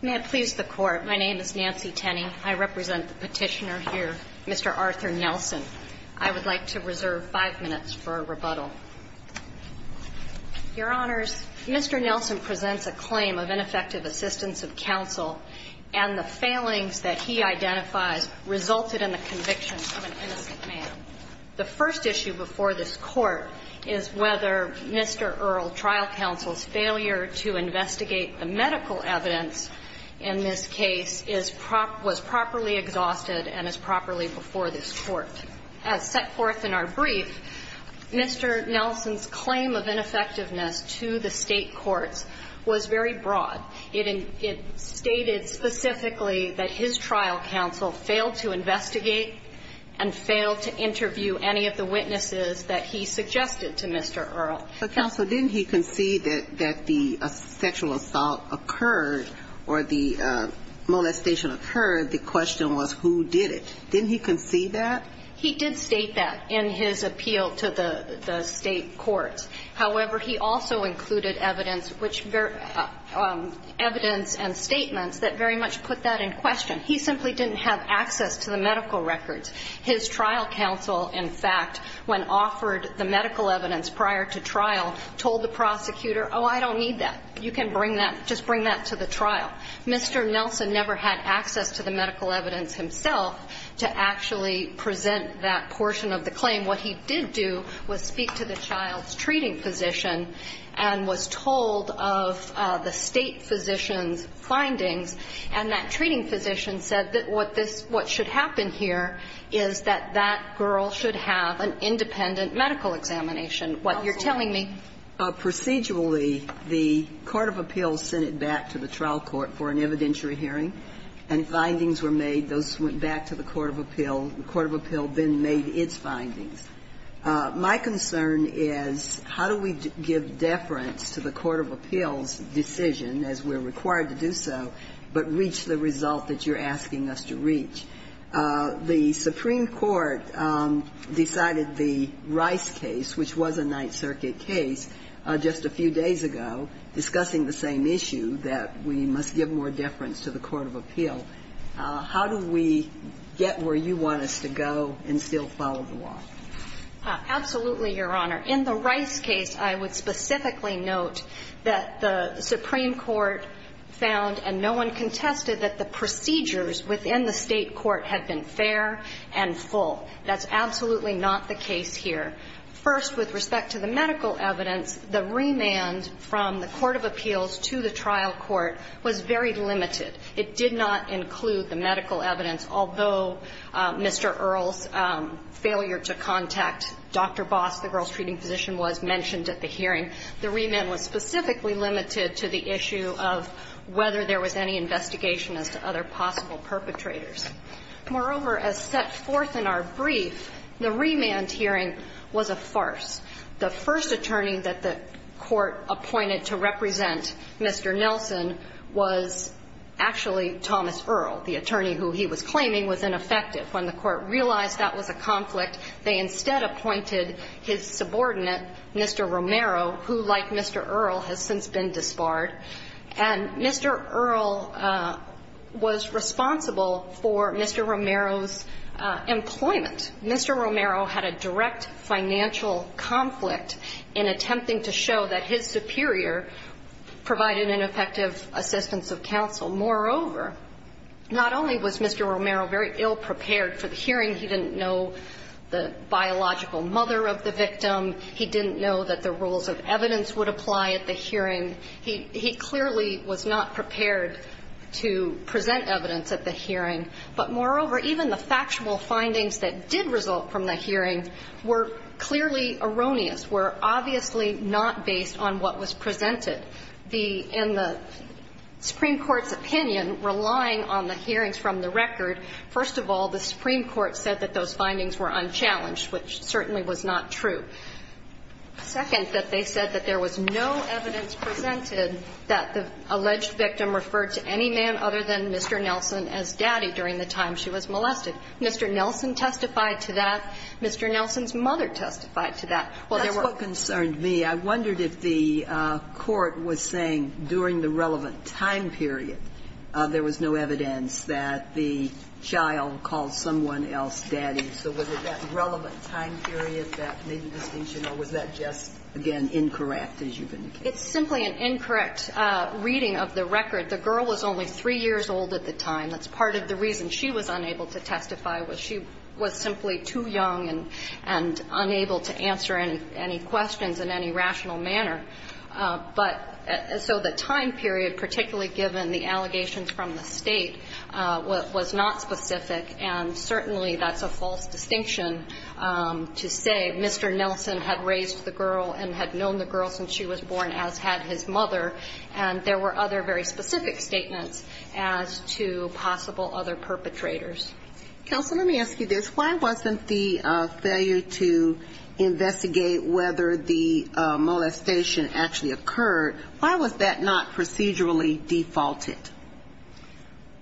May I please the Court? My name is Nancy Tenney. I represent the petitioner here, Mr. Arthur Nelson. I would like to reserve five minutes for a rebuttal. Your Honors, Mr. Nelson presents a claim of ineffective assistance of counsel and the failings that he identifies resulted in the conviction of an innocent man. The first issue before this Court is whether Mr. Earle trial counsel's failure to investigate the medical evidence in this case was properly exhausted and is properly before this Court. As set forth in our brief, Mr. Nelson's claim of ineffectiveness to the state courts was very broad. It stated specifically that his trial counsel failed to investigate and failed to interview any of the witnesses that he suggested to Mr. Earle. But counsel, didn't he concede that the sexual assault occurred or the molestation occurred, the question was who did it? Didn't he concede that? He did state that in his appeal to the state courts. However, he also included evidence, evidence and statements that very much put that in question. He simply didn't have access to the medical records. His trial counsel, in fact, when offered the medical evidence prior to trial, told the prosecutor, oh, I don't need that. You can bring that, just bring that to the trial. Mr. Nelson never had access to the medical evidence himself to actually present that portion of the claim. And what he did do was speak to the child's treating physician and was told of the state physician's findings, and that treating physician said that what this what should happen here is that that girl should have an independent medical examination, what you're telling me. Procedurally, the court of appeals sent it back to the trial court for an evidentiary hearing, and findings were made. Those went back to the court of appeal. The court of appeal then made its findings. My concern is how do we give deference to the court of appeals' decision, as we're required to do so, but reach the result that you're asking us to reach? The Supreme Court decided the Rice case, which was a Ninth Circuit case, just a few days ago, discussing the same issue, that we must give more deference to the court of appeal. How do we get where you want us to go and still follow the law? Absolutely, Your Honor. In the Rice case, I would specifically note that the Supreme Court found and no one contested that the procedures within the State court had been fair and full. That's absolutely not the case here. First, with respect to the medical evidence, the remand from the court of appeals to the trial court was very limited. It did not include the medical evidence, although Mr. Earle's failure to contact Dr. Boss, the girls' treating physician, was mentioned at the hearing. The remand was specifically limited to the issue of whether there was any investigation as to other possible perpetrators. Moreover, as set forth in our brief, the remand hearing was a farce. The first attorney that the court appointed to represent Mr. Nelson was actually Thomas Earle, the attorney who he was claiming was ineffective. When the court realized that was a conflict, they instead appointed his subordinate, Mr. Romero, who, like Mr. Earle, has since been disbarred. And Mr. Earle was responsible for Mr. Romero's employment. Mr. Romero had a direct financial conflict in attempting to show that his superior provided an effective assistance of counsel. Moreover, not only was Mr. Romero very ill-prepared for the hearing, he didn't know the biological mother of the victim, he didn't know that the rules of evidence would apply at the hearing. He clearly was not prepared to present evidence at the hearing. But moreover, even the factual findings that did result from the hearing were clearly erroneous, were obviously not based on what was presented. In the Supreme Court's opinion, relying on the hearings from the record, first of all, the Supreme Court said that those findings were unchallenged, which certainly was not true. Second, that they said that there was no evidence presented that the alleged victim referred to any man other than Mr. Nelson as daddy during the time she was molested. Mr. Nelson testified to that. Mr. Nelson's mother testified to that. Well, there were other things. Sotomayor That's what concerned me. I wondered if the court was saying during the relevant time period there was no evidence that the child called someone else daddy. So was it that relevant time period that made the distinction, or was that just, again, incorrect, as you've indicated? It's simply an incorrect reading of the record. The girl was only 3 years old at the time. That's part of the reason she was unable to testify, was she was simply too young and unable to answer any questions in any rational manner. But so the time period, particularly given the allegations from the State, was not specific. And certainly that's a false distinction to say Mr. Nelson had raised the girl and had known the girl since she was born, as had his mother. And there were other very specific statements as to possible other perpetrators. Counsel, let me ask you this. Why wasn't the failure to investigate whether the claim was procedurally defaulted?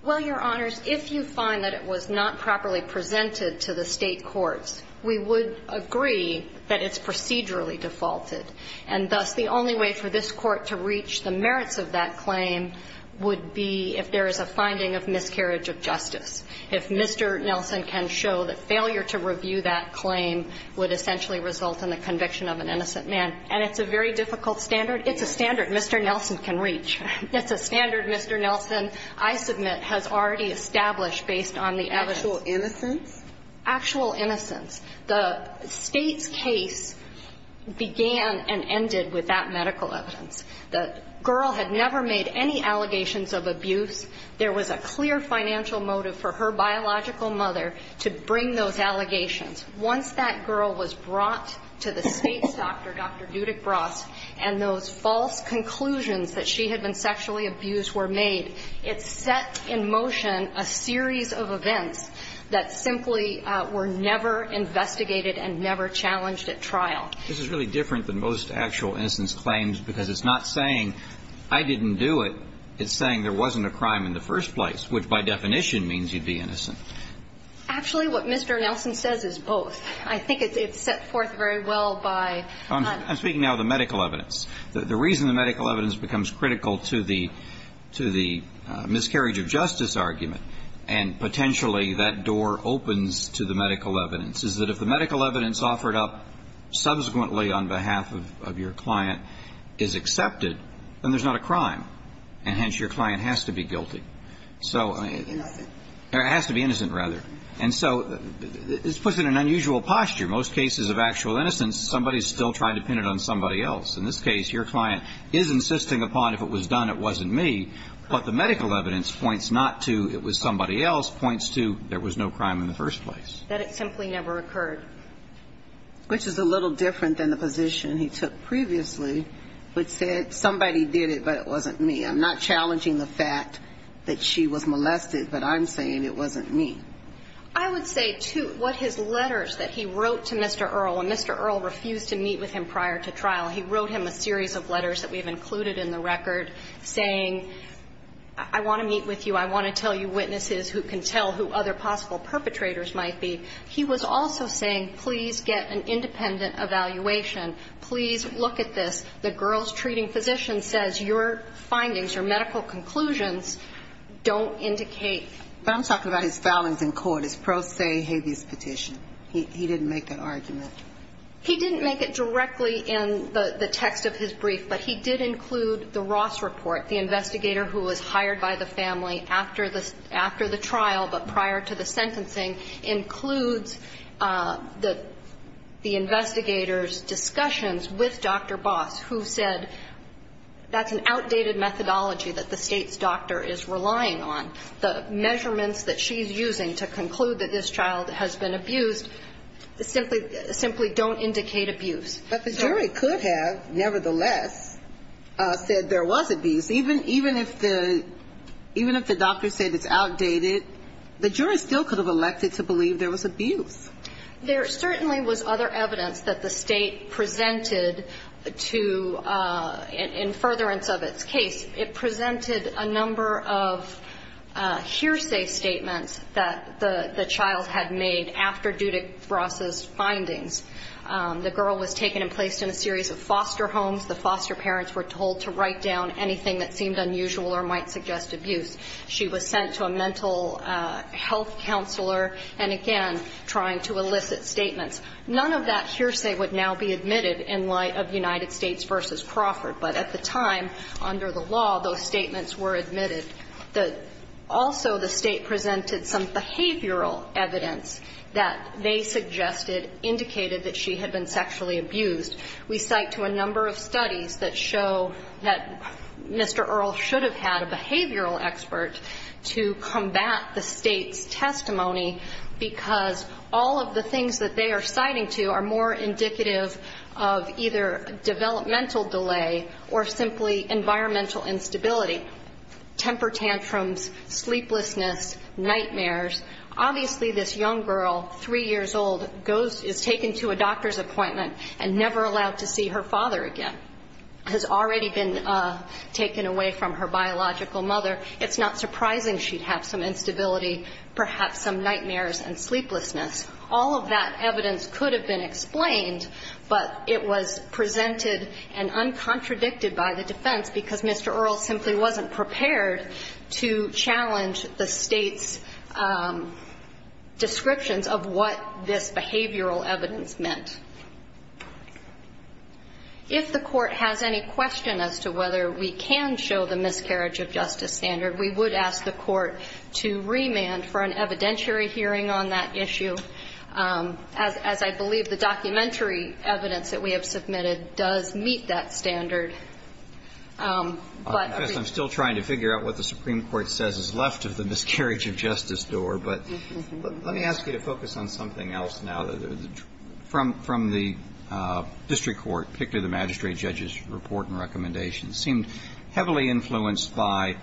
Well, Your Honors, if you find that it was not properly presented to the State courts, we would agree that it's procedurally defaulted. And thus, the only way for this Court to reach the merits of that claim would be if there is a finding of miscarriage of justice, if Mr. Nelson can show that failure to review that claim would essentially result in the conviction of an innocent man. And it's a very difficult standard. It's a standard Mr. Nelson can reach. It's a standard Mr. Nelson, I submit, has already established based on the evidence. Actual innocence? Actual innocence. The State's case began and ended with that medical evidence. The girl had never made any allegations of abuse. There was a clear financial motive for her biological mother to bring those allegations. Once that girl was brought to the State's doctor, Dr. Dudick-Bross, and those false conclusions that she had been sexually abused were made, it set in motion a series of events that simply were never investigated and never challenged at trial. This is really different than most actual innocence claims because it's not saying I didn't do it. It's saying there wasn't a crime in the first place, which by definition means you'd be innocent. Actually, what Mr. Nelson says is both. I think it's set forth very well by the medical evidence. I'm speaking now of the medical evidence. The reason the medical evidence becomes critical to the miscarriage of justice argument, and potentially that door opens to the medical evidence, is that if the medical evidence offered up subsequently on behalf of your client is accepted, then there's not a crime. And hence, your client has to be guilty. So I mean, it has to be innocent, rather. And so this puts it in an unusual posture. Most cases of actual innocence, somebody is still trying to pin it on somebody else. In this case, your client is insisting upon if it was done, it wasn't me, but the medical evidence points not to it was somebody else, points to there was no crime in the first place. That it simply never occurred. Which is a little different than the position he took previously, which said somebody did it, but it wasn't me. I'm not challenging the fact that she was molested, but I'm saying it wasn't me. I would say, too, what his letters that he wrote to Mr. Earle, and Mr. Earle refused to meet with him prior to trial, he wrote him a series of letters that we have included in the record saying, I want to meet with you, I want to tell you witnesses who can tell who other possible perpetrators might be. He was also saying, please get an independent evaluation. Please look at this. The girls' treating physician says your findings, your medical conclusions don't indicate. But I'm talking about his filings in court, his pro se habeas petition. He didn't make that argument. He didn't make it directly in the text of his brief, but he did include the Ross report, the investigator who was hired by the family after the trial, but prior to the sentencing, includes the investigator's discussions with Dr. Boss, who said that's an outdated methodology that the State's doctor is relying on. The measurements that she's using to conclude that this child has been abused simply don't indicate abuse. But the jury could have, nevertheless, said there was abuse. Even if the doctor said it's outdated, the jury still could have elected to believe there was abuse. There certainly was other evidence that the State presented to, in furtherance of its case, it presented a number of hearsay statements that the child had made after due to Ross's findings. The girl was taken to the hospital. She was taken and placed in a series of foster homes. The foster parents were told to write down anything that seemed unusual or might suggest abuse. She was sent to a mental health counselor and, again, trying to elicit statements. None of that hearsay would now be admitted in light of United States v. Crawford. But at the time, under the law, those statements were admitted. Also, the State presented some behavioral evidence that they suggested indicated that she had been sexually abused. We cite to a number of studies that show that Mr. Earle should have had a behavioral expert to combat the State's testimony because all of the things that they are citing to are more indicative of either developmental delay or simply environmental instability, temper tantrums, sleeplessness, nightmares. Obviously, this young girl, 3 years old, goes, is taken to a doctor's appointment and never allowed to see her father again, has already been taken away from her biological mother. It's not surprising she'd have some instability, perhaps some nightmares and sleeplessness. All of that evidence could have been explained, but it was presented and uncontradicted by the defense because Mr. Earle simply wasn't prepared to challenge the State's descriptions of what this behavioral evidence meant. If the Court has any question as to whether we can show the miscarriage of justice standard, we would ask the Court to remand for an evidentiary hearing on that issue, as I believe the documentary evidence that we have submitted does meet that standard. But I'm still trying to figure out what the Supreme Court says is left of the miscarriage of justice door, but let me ask you to focus on something else now. From the district court, particularly the magistrate judge's report and recommendations, seemed heavily influenced by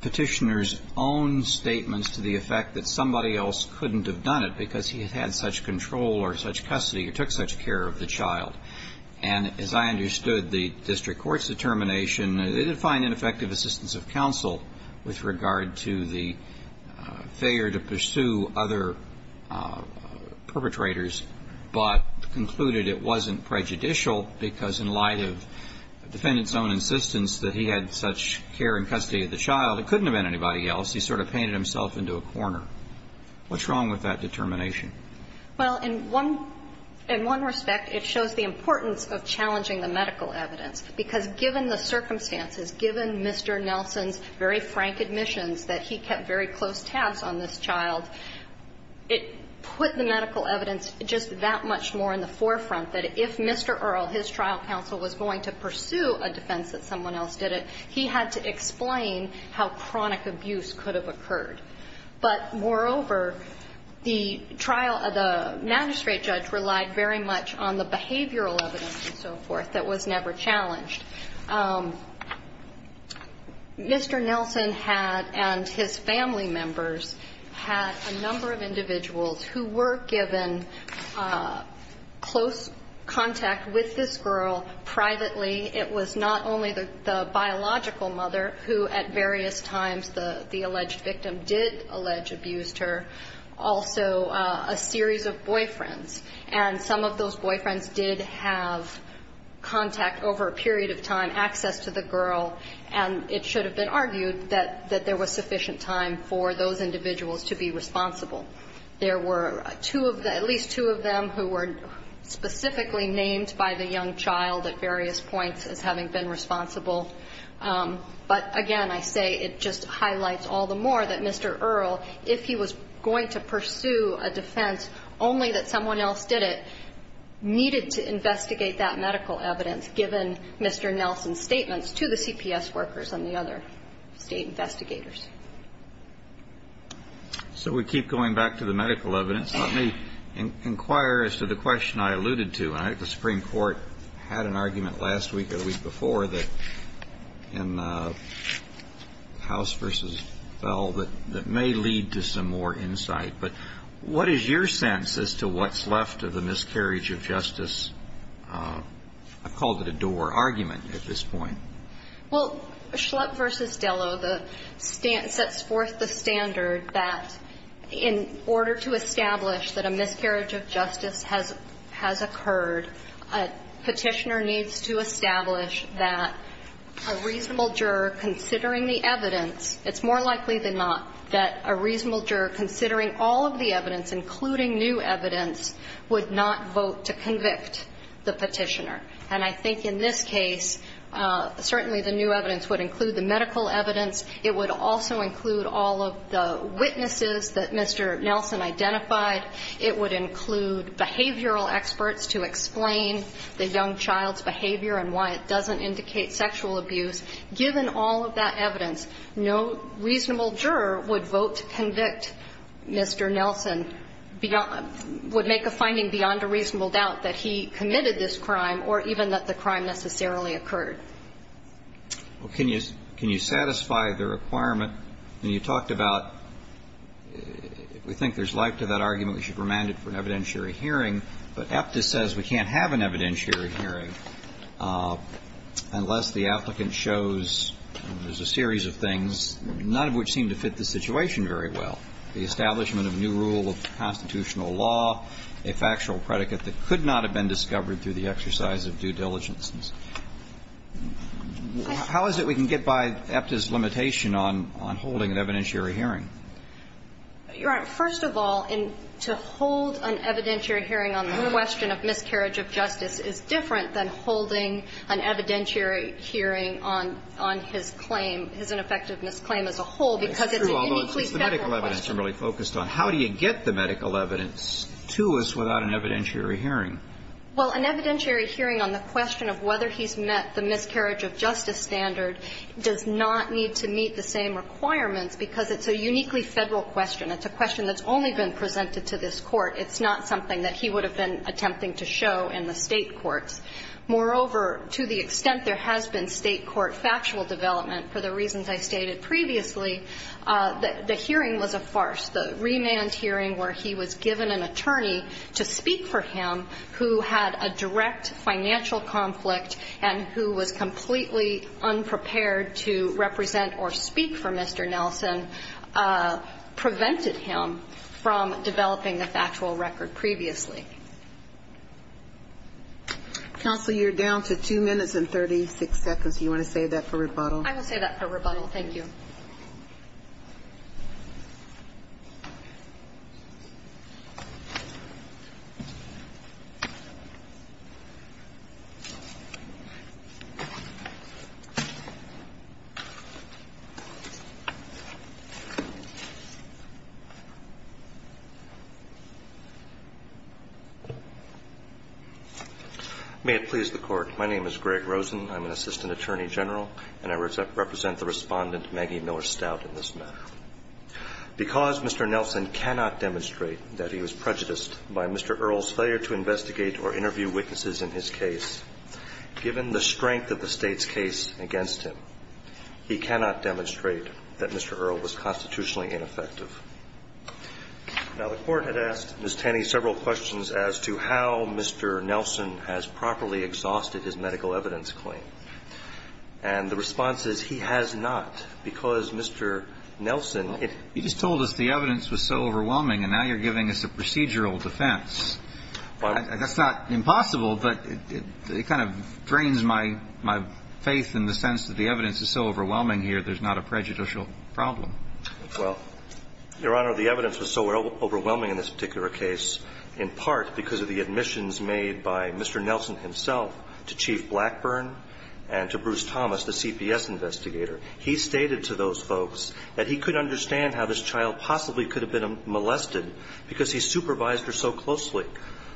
Petitioner's own statements to the effect that somebody else couldn't have done it because he had such control or such custody or took such care of the child. And as I understood the district court's determination, they didn't find ineffective assistance of counsel with regard to the failure to pursue other perpetrators, but concluded it wasn't prejudicial because in light of the defendant's own insistence that he had such care and custody of the child, it couldn't have been anybody else. He sort of painted himself into a corner. What's wrong with that determination? Well, in one respect, it shows the importance of challenging the medical evidence, because given the circumstances, given Mr. Nelson's very frank admissions that he kept very close tabs on this child, it put the medical evidence just that much more in the forefront that if Mr. Earle, his trial counsel, was going to pursue a defense that someone else did it, he had to explain how chronic abuse could have occurred. But moreover, the trial of the magistrate judge relied very much on the behavioral evidence and so forth that was never challenged. Mr. Nelson had and his family members had a number of individuals who were given close contact with this girl privately. It was not only the biological mother who at various times the alleged victim did allege abused her, also a series of boyfriends. And some of those boyfriends did have contact over a period of time, access to the girl, and it should have been argued that there was sufficient time for those individuals to be responsible. There were at least two of them who were specifically named by the young child at various points as having been responsible. But again, I say it just highlights all the more that Mr. Earle, if he was going to pursue a defense only that someone else did it, needed to investigate that medical evidence given Mr. Nelson's statements to the CPS workers and the other State investigators. So we keep going back to the medical evidence. Let me inquire as to the question I alluded to. I think the Supreme Court had an argument last week or the week before that in House v. Bell that may lead to some more insight. But what is your sense as to what's left of the miscarriage of justice? I've called it a door argument at this point. Well, Schlupp v. Dello, the stance that's forth the standard that in order to establish that a miscarriage of justice has occurred, a Petitioner needs to establish that a reasonable juror considering the evidence, it's more likely than not that a reasonable juror considering the evidence would not vote to convict the Petitioner. And I think in this case certainly the new evidence would include the medical evidence. It would also include all of the witnesses that Mr. Nelson identified. It would include behavioral experts to explain the young child's behavior and why it doesn't indicate sexual abuse. Given all of that evidence, no reasonable juror would vote to convict Mr. Nelson, would make a finding beyond a reasonable doubt that he committed this crime or even that the crime necessarily occurred. Well, can you satisfy the requirement when you talked about we think there's life to that argument, we should remand it for an evidentiary hearing, but Aptis says we can't have an evidentiary hearing unless the applicant shows there's a series of things, none of which seem to fit the situation very well, the establishment of new rule of constitutional law, a factual predicate that could not have been discovered through the exercise of due diligence. How is it we can get by Aptis' limitation on holding an evidentiary hearing? Your Honor, first of all, to hold an evidentiary hearing on the question of miscarriage of justice is different than holding an evidentiary hearing on his claim, his ineffectiveness claim as a whole, because it's an uniquely Federal question. It's true, although it's the medical evidence I'm really focused on. How do you get the medical evidence to us without an evidentiary hearing? Well, an evidentiary hearing on the question of whether he's met the miscarriage of justice standard does not need to meet the same requirements because it's a uniquely Federal question. It's a question that's only been presented to this Court. It's not something that he would have been attempting to show in the State courts. Moreover, to the extent there has been State court factual development, for the reasons I stated previously, the hearing was a farce. The remand hearing where he was given an attorney to speak for him who had a direct financial conflict and who was completely unprepared to represent or speak for Mr. Nelson prevented him from developing a factual record previously. Counsel, you're down to two minutes and 36 seconds. Do you want to save that for rebuttal? I will save that for rebuttal. Thank you. May it please the Court. My name is Greg Rosen. I'm an assistant attorney general, and I represent the Respondent Maggie Miller Stout in this matter. Because Mr. Nelson cannot demonstrate that he was prejudiced by Mr. Earle's failure to investigate or interview witnesses in his case, given the strength of the State's case against him, he cannot demonstrate that Mr. Earle was constitutionally ineffective. Now, the Court had asked Ms. Tenney several questions as to how Mr. Nelson has properly exhausted his medical evidence claim. And the response is he has not, because Mr. Nelson, it — You just told us the evidence was so overwhelming, and now you're giving us a procedural defense. Well — That's not impossible, but it kind of drains my faith in the sense that the evidence is so overwhelming here, there's not a prejudicial problem. Well, Your Honor, the evidence was so overwhelming in this particular case in part because of the admissions made by Mr. Nelson himself to Chief Blackburn and to Bruce Thomas, the CPS investigator. He stated to those folks that he could understand how this child possibly could have been molested because he supervised her so closely.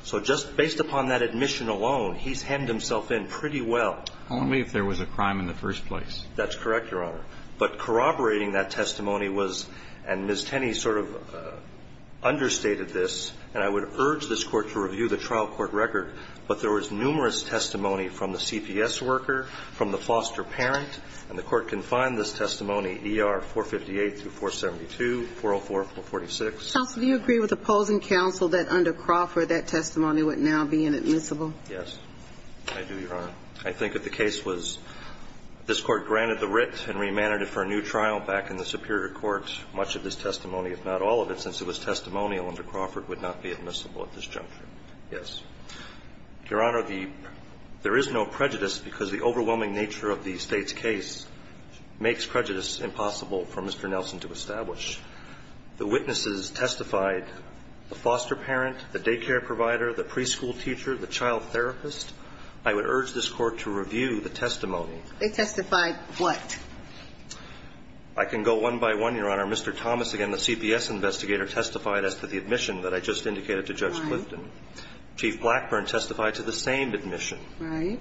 So just based upon that admission alone, he's hemmed himself in pretty well. Only if there was a crime in the first place. That's correct, Your Honor. But corroborating that testimony was — and Ms. Tenney sort of understated this, and I would urge this Court to review the trial court record, but there was numerous testimony from the CPS worker, from the foster parent, and the Court can find this testimony, ER 458-472, 404-446. Counsel, do you agree with opposing counsel that under Crawford that testimony would now be inadmissible? Yes, I do, Your Honor. I think if the case was — if this Court granted the writ and remanded it for a new trial back in the superior court, much of this testimony, if not all of it, since it was testimonial under Crawford, would not be admissible at this juncture. Yes. Your Honor, the — there is no prejudice because the overwhelming nature of the State's case makes prejudice impossible for Mr. Nelson to establish. The witnesses testified, the foster parent, the daycare provider, the preschool teacher, the child therapist. I would urge this Court to review the testimony. They testified what? I can go one by one, Your Honor. Mr. Thomas, again, the CPS investigator, testified as to the admission that I just indicated to Judge Clifton. Right. Chief Blackburn testified to the same admission. Right.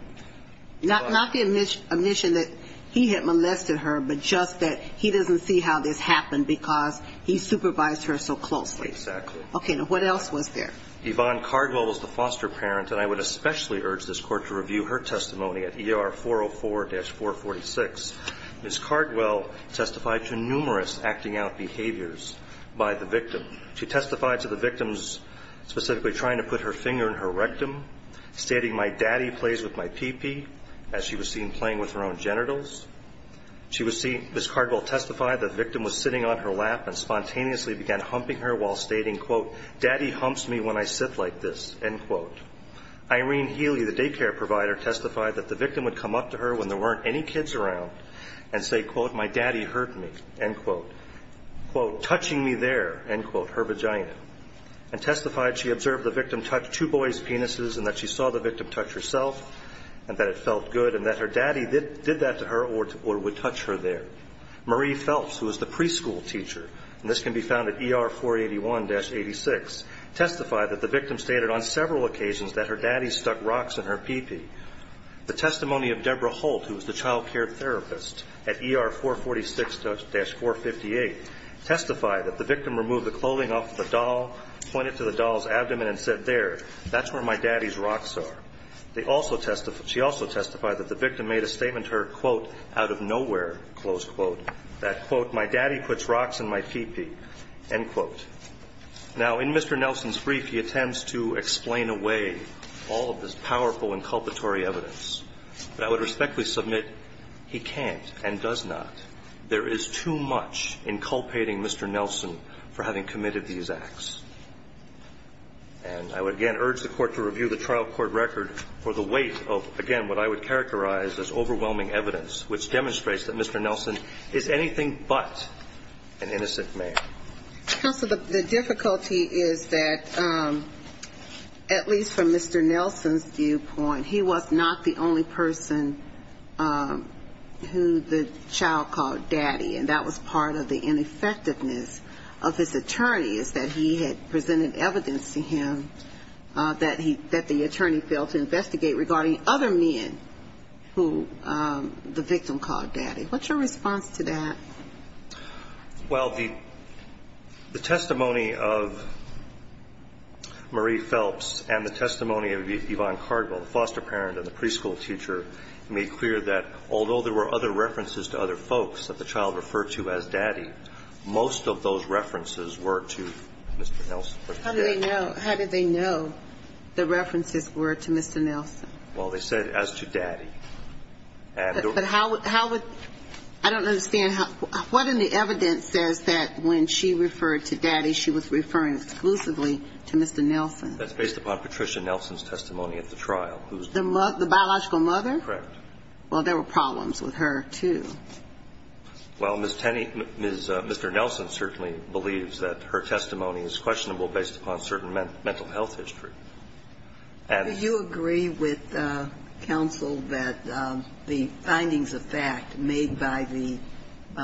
Not the admission that he had molested her, but just that he doesn't see how this could happen because he supervised her so closely. Exactly. Okay. Now, what else was there? Yvonne Cardwell was the foster parent, and I would especially urge this Court to review her testimony at ER 404-446. Ms. Cardwell testified to numerous acting out behaviors by the victim. She testified to the victim's specifically trying to put her finger in her rectum, stating, my daddy plays with my pee-pee, as she was seen playing with her own genitals. Ms. Cardwell testified that the victim was sitting on her lap and spontaneously began humping her while stating, quote, daddy humps me when I sit like this, end quote. Irene Healy, the daycare provider, testified that the victim would come up to her when there weren't any kids around and say, quote, my daddy hurt me, end quote, quote, touching me there, end quote, her vagina. And testified she observed the victim touch two boys' penises and that she saw the victim touch herself and that it felt good and that her daddy did that to her or would touch her there. Marie Phelps, who was the preschool teacher, and this can be found at ER 481-86, testified that the victim stated on several occasions that her daddy stuck rocks in her pee-pee. The testimony of Deborah Holt, who was the child care therapist at ER 446-458, testified that the victim removed the clothing off the doll, pointed to the doll's abdomen and said, there, that's where my daddy's rocks are. She also testified that the victim made a statement to her, quote, out of nowhere, close quote, that, quote, my daddy puts rocks in my pee-pee, end quote. Now, in Mr. Nelson's brief, he attempts to explain away all of this powerful inculpatory evidence, but I would respectfully submit he can't and does not. There is too much inculpating Mr. Nelson for having committed these acts. And I would, again, urge the court to review the trial court record for the weight of, again, what I would characterize as overwhelming evidence, which demonstrates that Mr. Nelson is anything but an innocent man. Counsel, the difficulty is that, at least from Mr. Nelson's viewpoint, he was not the only person who the child called daddy, and that was part of the ineffectiveness of his attorney, is that he had presented evidence to him that the attorney failed to investigate regarding other men who the victim called daddy. What's your response to that? Well, the testimony of Marie Phelps and the testimony of Yvonne Cardwell, the foster parent and the preschool teacher, made clear that although there were other references to other folks that the child referred to as daddy, most of those references were to Mr. Nelson. How did they know? How did they know the references were to Mr. Nelson? Well, they said as to daddy. But how would – I don't understand. What in the evidence says that when she referred to daddy, she was referring exclusively to Mr. Nelson? That's based upon Patricia Nelson's testimony at the trial. The biological mother? Correct. Well, there were problems with her, too. Well, Ms. Tenney – Mr. Nelson certainly believes that her testimony is questionable based upon certain mental health history. Do you agree with counsel that the findings of fact made by the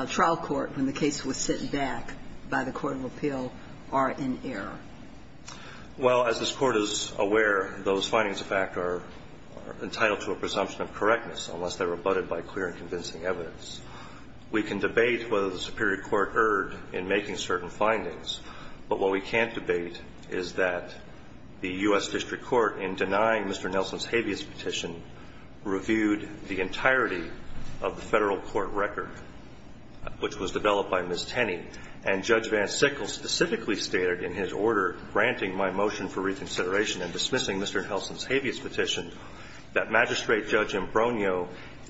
trial court when the case was sent back by the court of appeal are in error? Well, as this Court is aware, those findings of fact are entitled to a presumption of correctness unless they're rebutted by clear and convincing evidence. We can debate whether the Superior Court erred in making certain findings, but what we can't debate is that the U.S. District Court, in denying Mr. Nelson's habeas petition, reviewed the entirety of the Federal Court record, which was developed by Ms. Tenney. And Judge Van Sickle specifically stated in his order granting my motion for reconsideration and dismissing Mr. Nelson's habeas petition that Magistrate Judge Imbrogno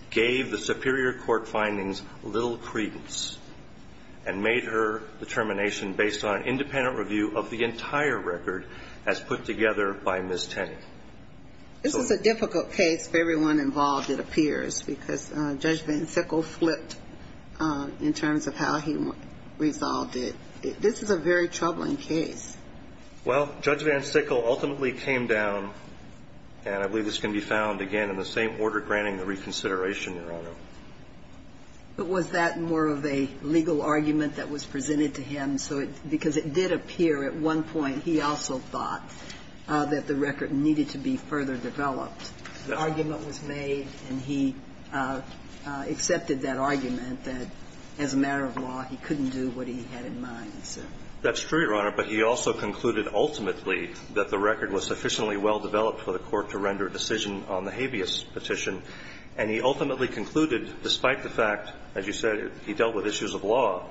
gave the Superior Court findings little credence and made her determination based on an independent review of the entire record as put together by Ms. Tenney. This is a difficult case for everyone involved, it appears, because Judge Van Sickle flipped in terms of how he resolved it. This is a very troubling case. Well, Judge Van Sickle ultimately came down, and I believe this can be found, again, in the same order granting the reconsideration, Your Honor. But was that more of a legal argument that was presented to him? Because it did appear at one point he also thought that the record needed to be further developed. The argument was made, and he accepted that argument, that as a matter of law he couldn't do what he had in mind, he said. That's true, Your Honor. But he also concluded ultimately that the record was sufficiently well developed for the Court to render a decision on the habeas petition. And he ultimately concluded, despite the fact, as you said, he dealt with issues of law,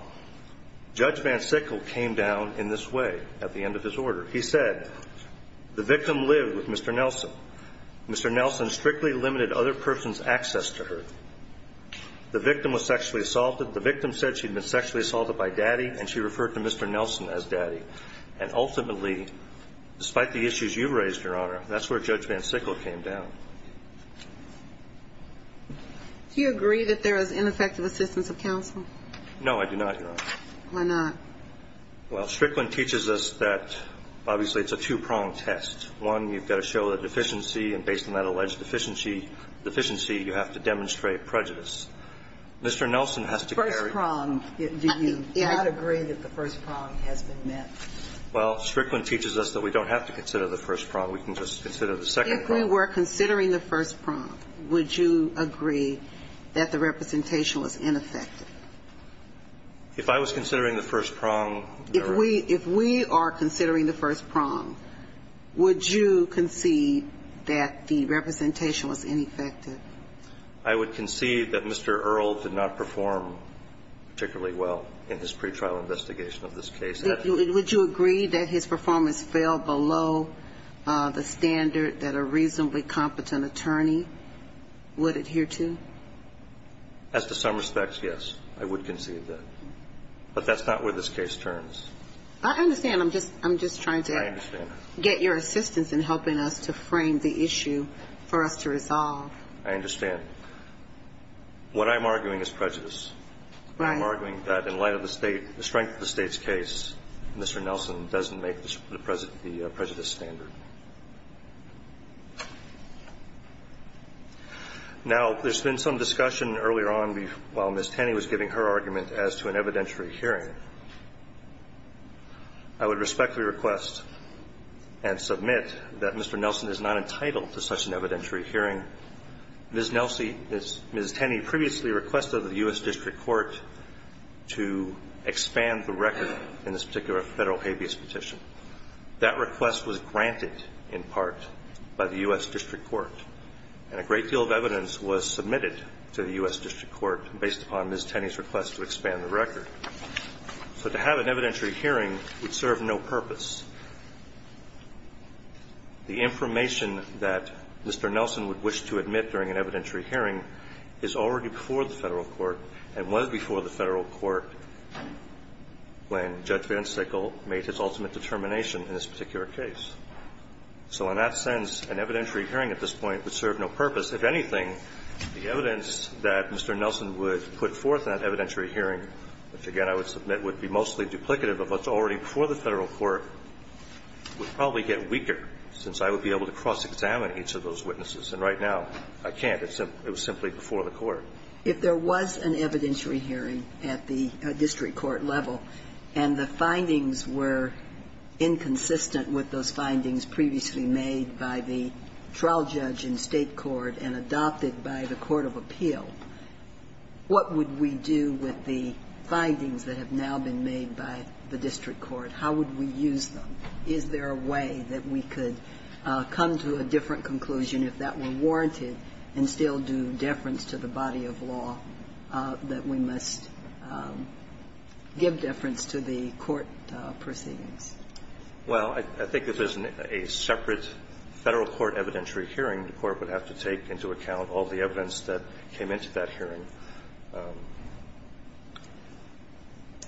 Judge Van Sickle came down in this way at the end of his order. He said, the victim lived with Mr. Nelson. Mr. Nelson strictly limited other persons' access to her. The victim was sexually assaulted. The victim said she'd been sexually assaulted by Daddy, and she referred to Mr. Nelson as Daddy. And ultimately, despite the issues you raised, Your Honor, that's where Judge Van Sickle came down. Do you agree that there is ineffective assistance of counsel? No, I do not, Your Honor. Why not? Well, Strickland teaches us that, obviously, it's a two-prong test. One, you've got to show that deficiency, and based on that alleged deficiency, you have to demonstrate prejudice. Mr. Nelson has to carry it. First prong, do you not agree that the first prong has been met? Well, Strickland teaches us that we don't have to consider the first prong. We can just consider the second prong. If we were considering the first prong, would you agree that the representation was ineffective? If I was considering the first prong, Your Honor? If we are considering the first prong, would you concede that the representation was ineffective? I would concede that Mr. Earle did not perform particularly well in his pretrial investigation of this case. Would you agree that his performance fell below the standard that a reasonably competent attorney would adhere to? As to some respects, yes. I would concede that. But that's not where this case turns. I understand. I'm just trying to get your assistance in helping us to frame the issue for us to resolve. I understand. What I'm arguing is prejudice. Right. I'm arguing that in light of the strength of the State's case, Mr. Nelson doesn't make the prejudice standard. Now, there's been some discussion earlier on while Ms. Tenney was giving her argument as to an evidentiary hearing. I would respectfully request and submit that Mr. Nelson is not entitled to such an evidentiary hearing. Ms. Tenney previously requested that the U.S. District Court to expand the record in this particular Federal habeas petition. That request was granted in part by the U.S. District Court. And a great deal of evidence was submitted to the U.S. District Court based upon Ms. Tenney's request to expand the record. So to have an evidentiary hearing would serve no purpose. The information that Mr. Nelson would wish to admit during an evidentiary hearing is already before the Federal court and was before the Federal court when Judge VanSickle made his ultimate determination in this particular case. So in that sense, an evidentiary hearing at this point would serve no purpose. If anything, the evidence that Mr. Nelson would put forth in that evidentiary hearing, which, again, I would submit would be mostly duplicative of what's already before the Federal court, would probably get weaker, since I would be able to cross-examine each of those witnesses. And right now, I can't. It was simply before the court. Sotomayor, if there was an evidentiary hearing at the district court level and the findings were inconsistent with those findings previously made by the trial judge in State court and adopted by the court of appeal, what would we do with the findings that have now been made by the district court? How would we use them? Is there a way that we could come to a different conclusion if that were warranted and still do deference to the body of law that we must give deference to the court proceedings? Well, I think if there's a separate Federal court evidentiary hearing, the court would have to take into account all the evidence that came into that hearing.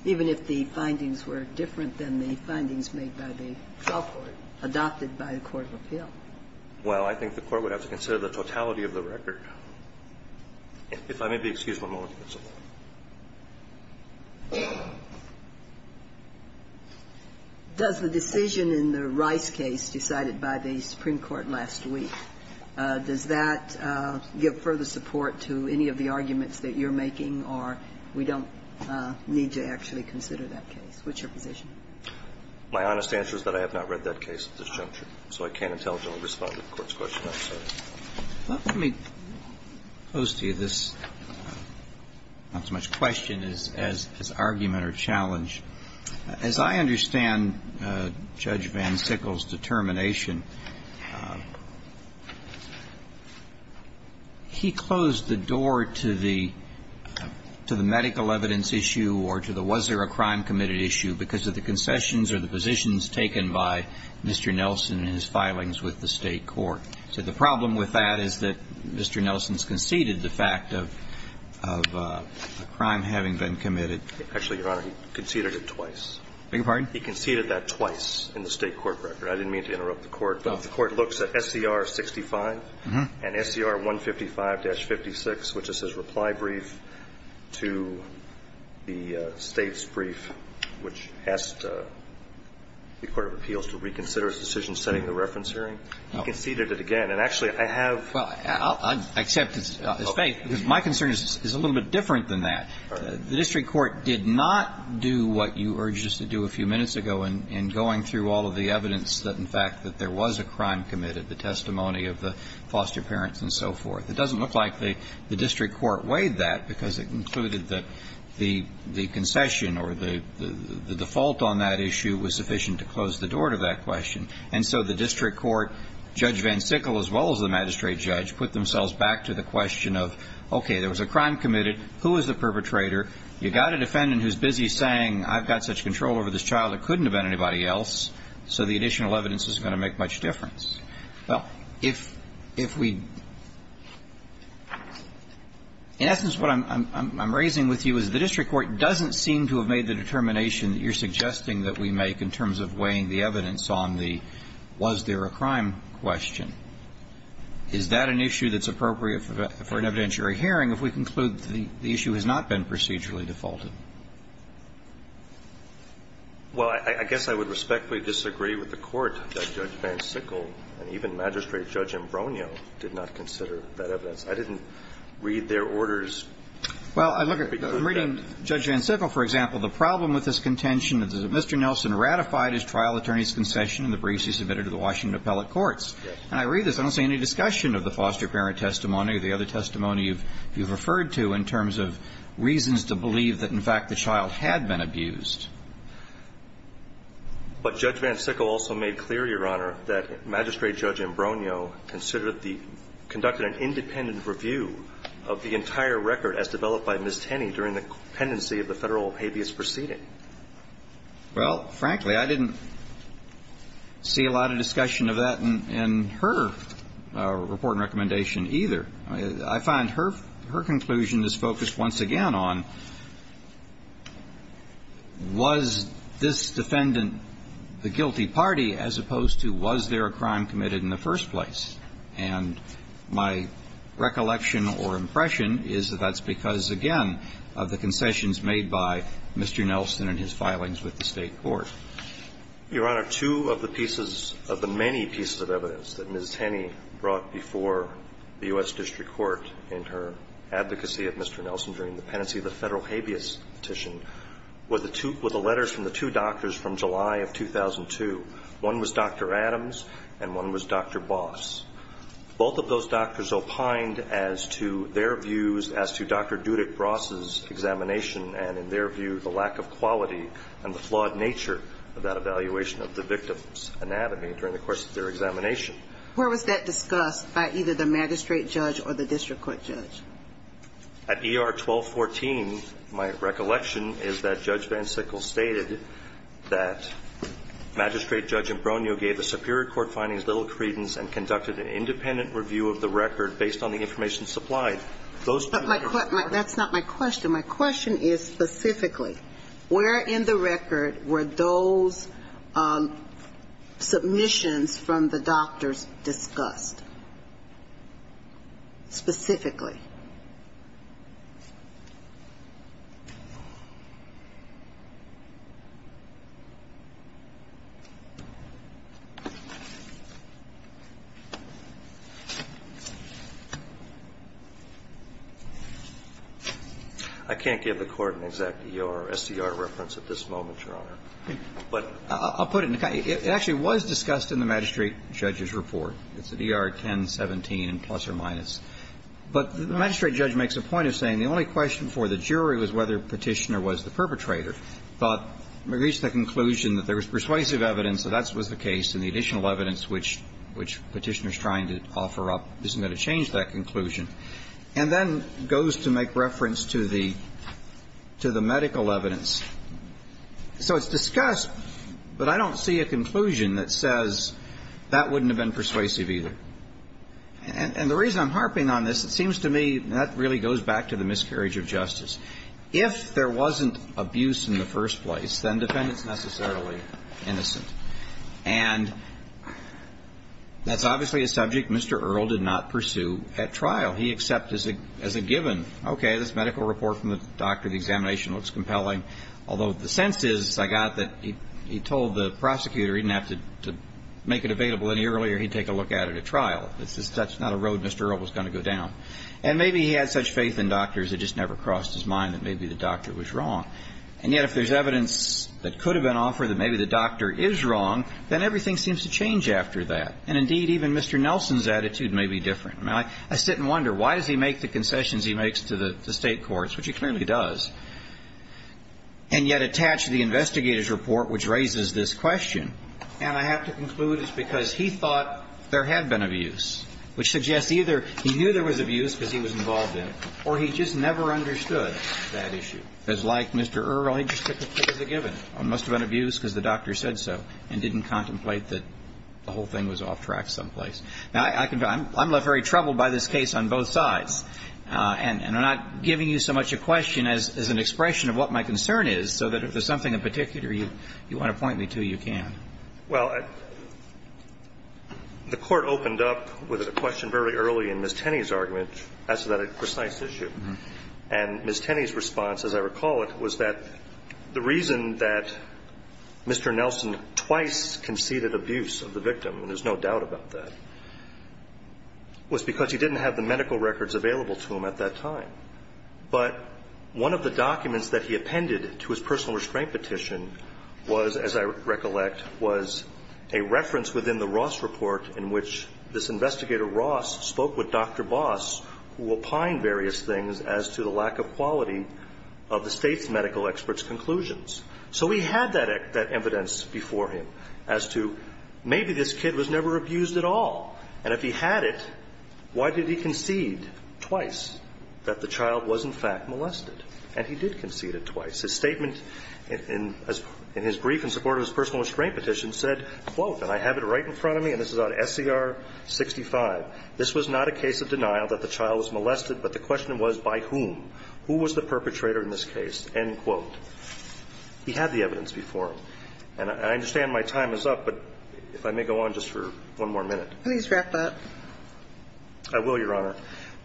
Even if the findings were different than the findings made by the trial court adopted by the court of appeal? Well, I think the court would have to consider the totality of the record. If I may be excused one moment, Your Honor. Does the decision in the Rice case decided by the Supreme Court last week, does that give further support to any of the arguments that you're making, or we don't need to actually consider that case? What's your position? My honest answer is that I have not read that case at this juncture, so I can't intelligently respond to the court's question, I'm sorry. Let me pose to you this, not so much question as argument or challenge. As I understand Judge Van Sickle's determination, he closed the door to the medical evidence issue or to the was there a crime committed issue because of the concessions or the positions taken by Mr. Nelson in his filings with the State court. So the problem with that is that Mr. Nelson's conceded the fact of a crime having been committed. Actually, Your Honor, he conceded it twice. I beg your pardon? He conceded that twice in the State court record. I didn't mean to interrupt the court. The court looks at SCR 65 and SCR 155-56, which is his reply brief to the State's brief, which asked the Court of Appeals to reconsider its decision setting the reference hearing. He conceded it again. And actually, I have ---- Well, I accept his faith, because my concern is a little bit different than that. The district court did not do what you urged us to do a few minutes ago in going through all of the evidence that, in fact, that there was a crime committed, the testimony of the foster parents and so forth. It doesn't look like the district court weighed that, because it concluded that the concession or the default on that issue was sufficient to close the door to that question. And so the district court, Judge Van Sickle as well as the magistrate judge, put themselves back to the question of, okay, there was a crime committed. Who is the perpetrator? You got a defendant who's busy saying, I've got such control over this child, it doesn't make much difference. So the additional evidence isn't going to make much difference. Well, if we ---- in essence, what I'm raising with you is the district court doesn't seem to have made the determination that you're suggesting that we make in terms of weighing the evidence on the was there a crime question. Is that an issue that's appropriate for an evidentiary hearing if we conclude the issue has not been procedurally defaulted? Well, I guess I would respectfully disagree with the court that Judge Van Sickle and even Magistrate Judge Ambronio did not consider that evidence. I didn't read their orders. Well, I look at ---- I'm reading Judge Van Sickle, for example, the problem with this contention is that Mr. Nelson ratified his trial attorney's concession in the briefs he submitted to the Washington appellate courts. And I read this. I don't see any discussion of the foster parent testimony or the other testimony you've referred to in terms of reasons to believe that, in fact, the child had been abused. But Judge Van Sickle also made clear, Your Honor, that Magistrate Judge Ambronio considered the ---- conducted an independent review of the entire record as developed by Ms. Tenney during the pendency of the Federal habeas proceeding. Well, frankly, I didn't see a lot of discussion of that in her report and recommendation either. I find her conclusion is focused once again on was this defendant the guilty party as opposed to was there a crime committed in the first place. And my recollection or impression is that that's because, again, of the concessions made by Mr. Nelson and his filings with the State court. Your Honor, two of the pieces of the many pieces of evidence that Ms. Tenney brought before the U.S. District Court in her advocacy of Mr. Nelson during the pendency of the Federal habeas petition were the two ---- were the letters from the two doctors from July of 2002. One was Dr. Adams and one was Dr. Boss. Both of those doctors opined as to their views as to Dr. Dudick-Bross's examination and, in their view, the lack of quality and the flawed nature of that evaluation of the victim's anatomy during the course of their examination. Where was that discussed by either the magistrate judge or the district court judge? At ER 1214, my recollection is that Judge VanSickle stated that Magistrate Judge Imbrugno gave the superior court findings little credence and conducted an independent review of the record based on the information supplied. But my question ---- That's not my question. My question is specifically where in the record were those submissions from the doctors discussed? Specifically? I can't give the Court an exact ER or SCR reference at this moment, Your Honor. But ---- It actually was discussed in the magistrate judge's report. It's at ER 1017 and plus or minus. But the magistrate judge makes a point of saying the only question for the jury was whether Petitioner was the perpetrator. But we reached the conclusion that there was persuasive evidence that that was the case and the additional evidence which Petitioner is trying to offer up isn't going to change that conclusion. And then goes to make reference to the medical evidence. So it's discussed, but I don't see a conclusion that says that wouldn't have been persuasive either. And the reason I'm harping on this, it seems to me that really goes back to the miscarriage of justice. If there wasn't abuse in the first place, then the defendant is necessarily innocent. And that's obviously a subject Mr. Earle did not pursue at trial. He accepted as a given, okay, this medical report from the doctor, the examination looks compelling. Although the sense is I got that he told the prosecutor he didn't have to make it available any earlier. He'd take a look at it at trial. That's not a road Mr. Earle was going to go down. And maybe he had such faith in doctors, it just never crossed his mind that maybe the doctor was wrong. And yet if there's evidence that could have been offered that maybe the doctor is wrong, then everything seems to change after that. And indeed, even Mr. Nelson's attitude may be different. I sit and wonder why does he make the concessions he makes to the state courts, which he clearly does. And yet attach to the investigator's report, which raises this question, and I have to conclude it's because he thought there had been abuse, which suggests either he knew there was abuse because he was involved in it, or he just never understood that issue. Because like Mr. Earle, he just took it as a given. There must have been abuse because the doctor said so and didn't contemplate that the whole thing was off track someplace. Now, I'm left very troubled by this case on both sides. And I'm not giving you so much a question as an expression of what my concern is, so that if there's something in particular you want to point me to, you can. Well, the Court opened up with a question very early in Ms. Tenney's argument as to that precise issue. And Ms. Tenney's response, as I recall it, was that the reason that Mr. Nelson twice conceded abuse of the victim, and there's no doubt about that, was because he didn't have the medical records available to him at that time. But one of the documents that he appended to his personal restraint petition was, as I recollect, was a reference within the Ross report in which this investigator Ross spoke with Dr. Boss, who opined various things as to the lack of quality of the State's medical experts' conclusions. So he had that evidence before him as to maybe this kid was never abused at all. And if he had it, why did he concede twice that the child was in fact molested? And he did concede it twice. His statement in his brief in support of his personal restraint petition said, quote, and I have it right in front of me, and this is on SCR 65, this was not a case of denial that the child was molested, but the question was by whom? Who was the perpetrator in this case? End quote. He had the evidence before him. And I understand my time is up, but if I may go on just for one more minute. Please wrap up. I will, Your Honor.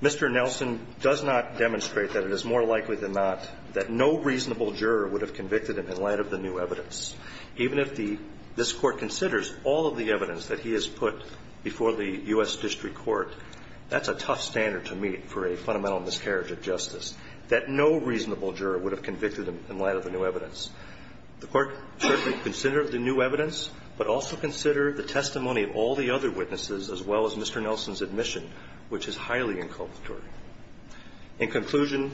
Mr. Nelson does not demonstrate that it is more likely than not that no reasonable juror would have convicted him in light of the new evidence. Even if the – this Court considers all of the evidence that he has put before the U.S. District Court, that's a tough standard to meet for a fundamental miscarriage of justice, that no reasonable juror would have convicted him in light of the new evidence. The Court should consider the new evidence, but also consider the testimony of all the other witnesses as well as Mr. Nelson's admission, which is highly inculpatory. In conclusion,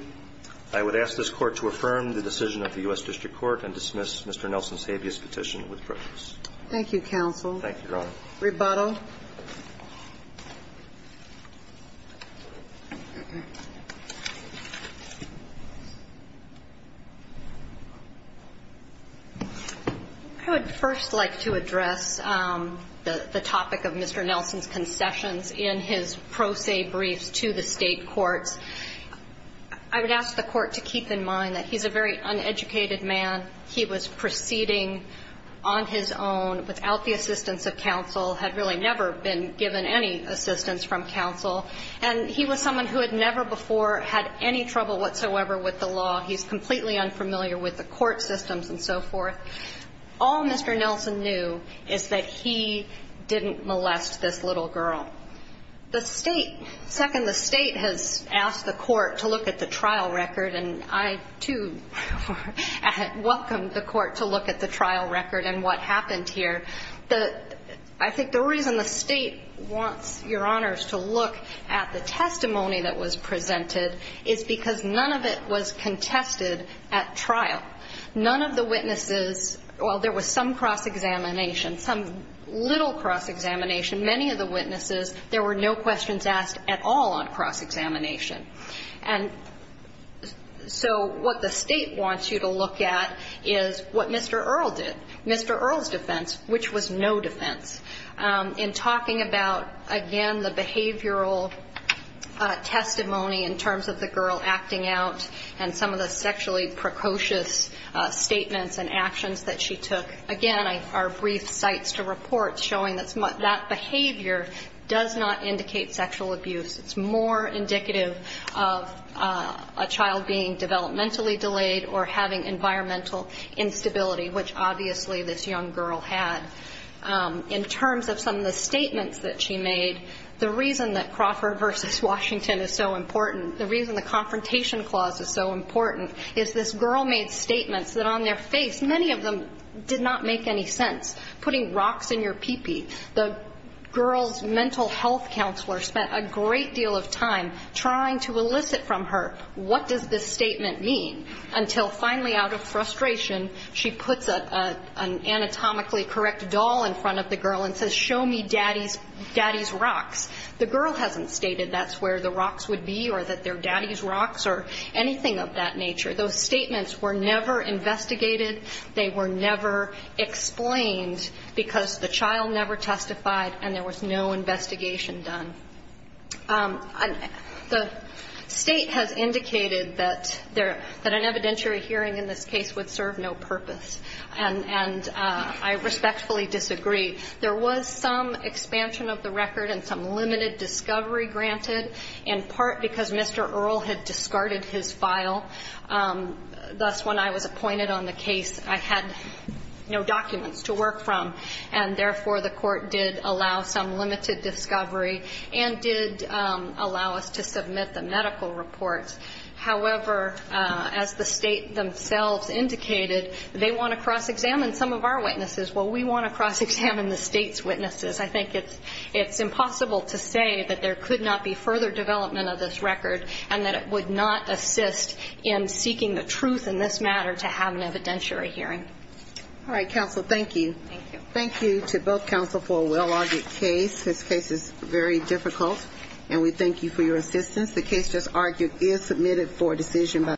I would ask this Court to affirm the decision of the U.S. District Court and dismiss Mr. Nelson's habeas petition with prejudice. Thank you, counsel. Thank you, Your Honor. Rebuttal. I would first like to address the topic of Mr. Nelson's concessions in his pro se briefs to the State courts. I would ask the Court to keep in mind that he's a very uneducated man. He was proceeding on his own without the assistance of counsel, had really never been given any assistance from counsel. And he was someone who had never before had any trouble whatsoever with the law. He's completely unfamiliar with the court systems and so forth. All Mr. Nelson knew is that he didn't molest this little girl. The State, second, the State has asked the Court to look at the trial record, and I, too, welcome the Court to look at the trial record and what happened here. The – I think the reason the State wants Your Honors to look at the testimony that was presented is because none of it was contested at trial. None of the witnesses – well, there was some cross-examination, some little cross-examination. Many of the witnesses, there were no questions asked at all on cross-examination. And so what the State wants you to look at is what Mr. Earle did. Mr. Earle's defense, which was no defense, in talking about, again, the behavioral testimony in terms of the girl acting out and some of the sexually precocious statements and actions that she took, again, are brief cites to report showing that that behavior does not indicate sexual abuse. It's more indicative of a child being developmentally delayed or having environmental instability, which obviously this young girl had. In terms of some of the statements that she made, the reason that Crawford v. Washington is so important, the reason the Confrontation Clause is so important is this girl made statements that on their face, many of them did not make any sense. Putting rocks in your pee-pee, the girl's mental health counselor spent a great deal of time trying to elicit from her, what does this statement mean? Until finally out of frustration, she puts an anatomically correct doll in front of the girl and says, show me daddy's rocks. The girl hasn't stated that's where the rocks would be or that they're daddy's rocks or anything of that nature. Those statements were never investigated. They were never explained because the child never testified and there was no investigation done. The State has indicated that an evidentiary hearing in this case would serve no purpose. And I respectfully disagree. There was some expansion of the record and some limited discovery granted, in part because Mr. Earle had discarded his file. Thus, when I was appointed on the case, I had no documents to work from. And therefore, the court did allow some limited discovery and did allow us to submit the medical reports. However, as the State themselves indicated, they want to cross-examine some of our witnesses. Well, we want to cross-examine the State's witnesses. I think it's impossible to say that there could not be further development of this record and that it would not assist in seeking the truth in this matter to have an evidentiary hearing. All right. Counsel, thank you. Thank you. Thank you to both counsel for a well-argued case. This case is very difficult. And we thank you for your assistance. The case just argued is submitted for decision.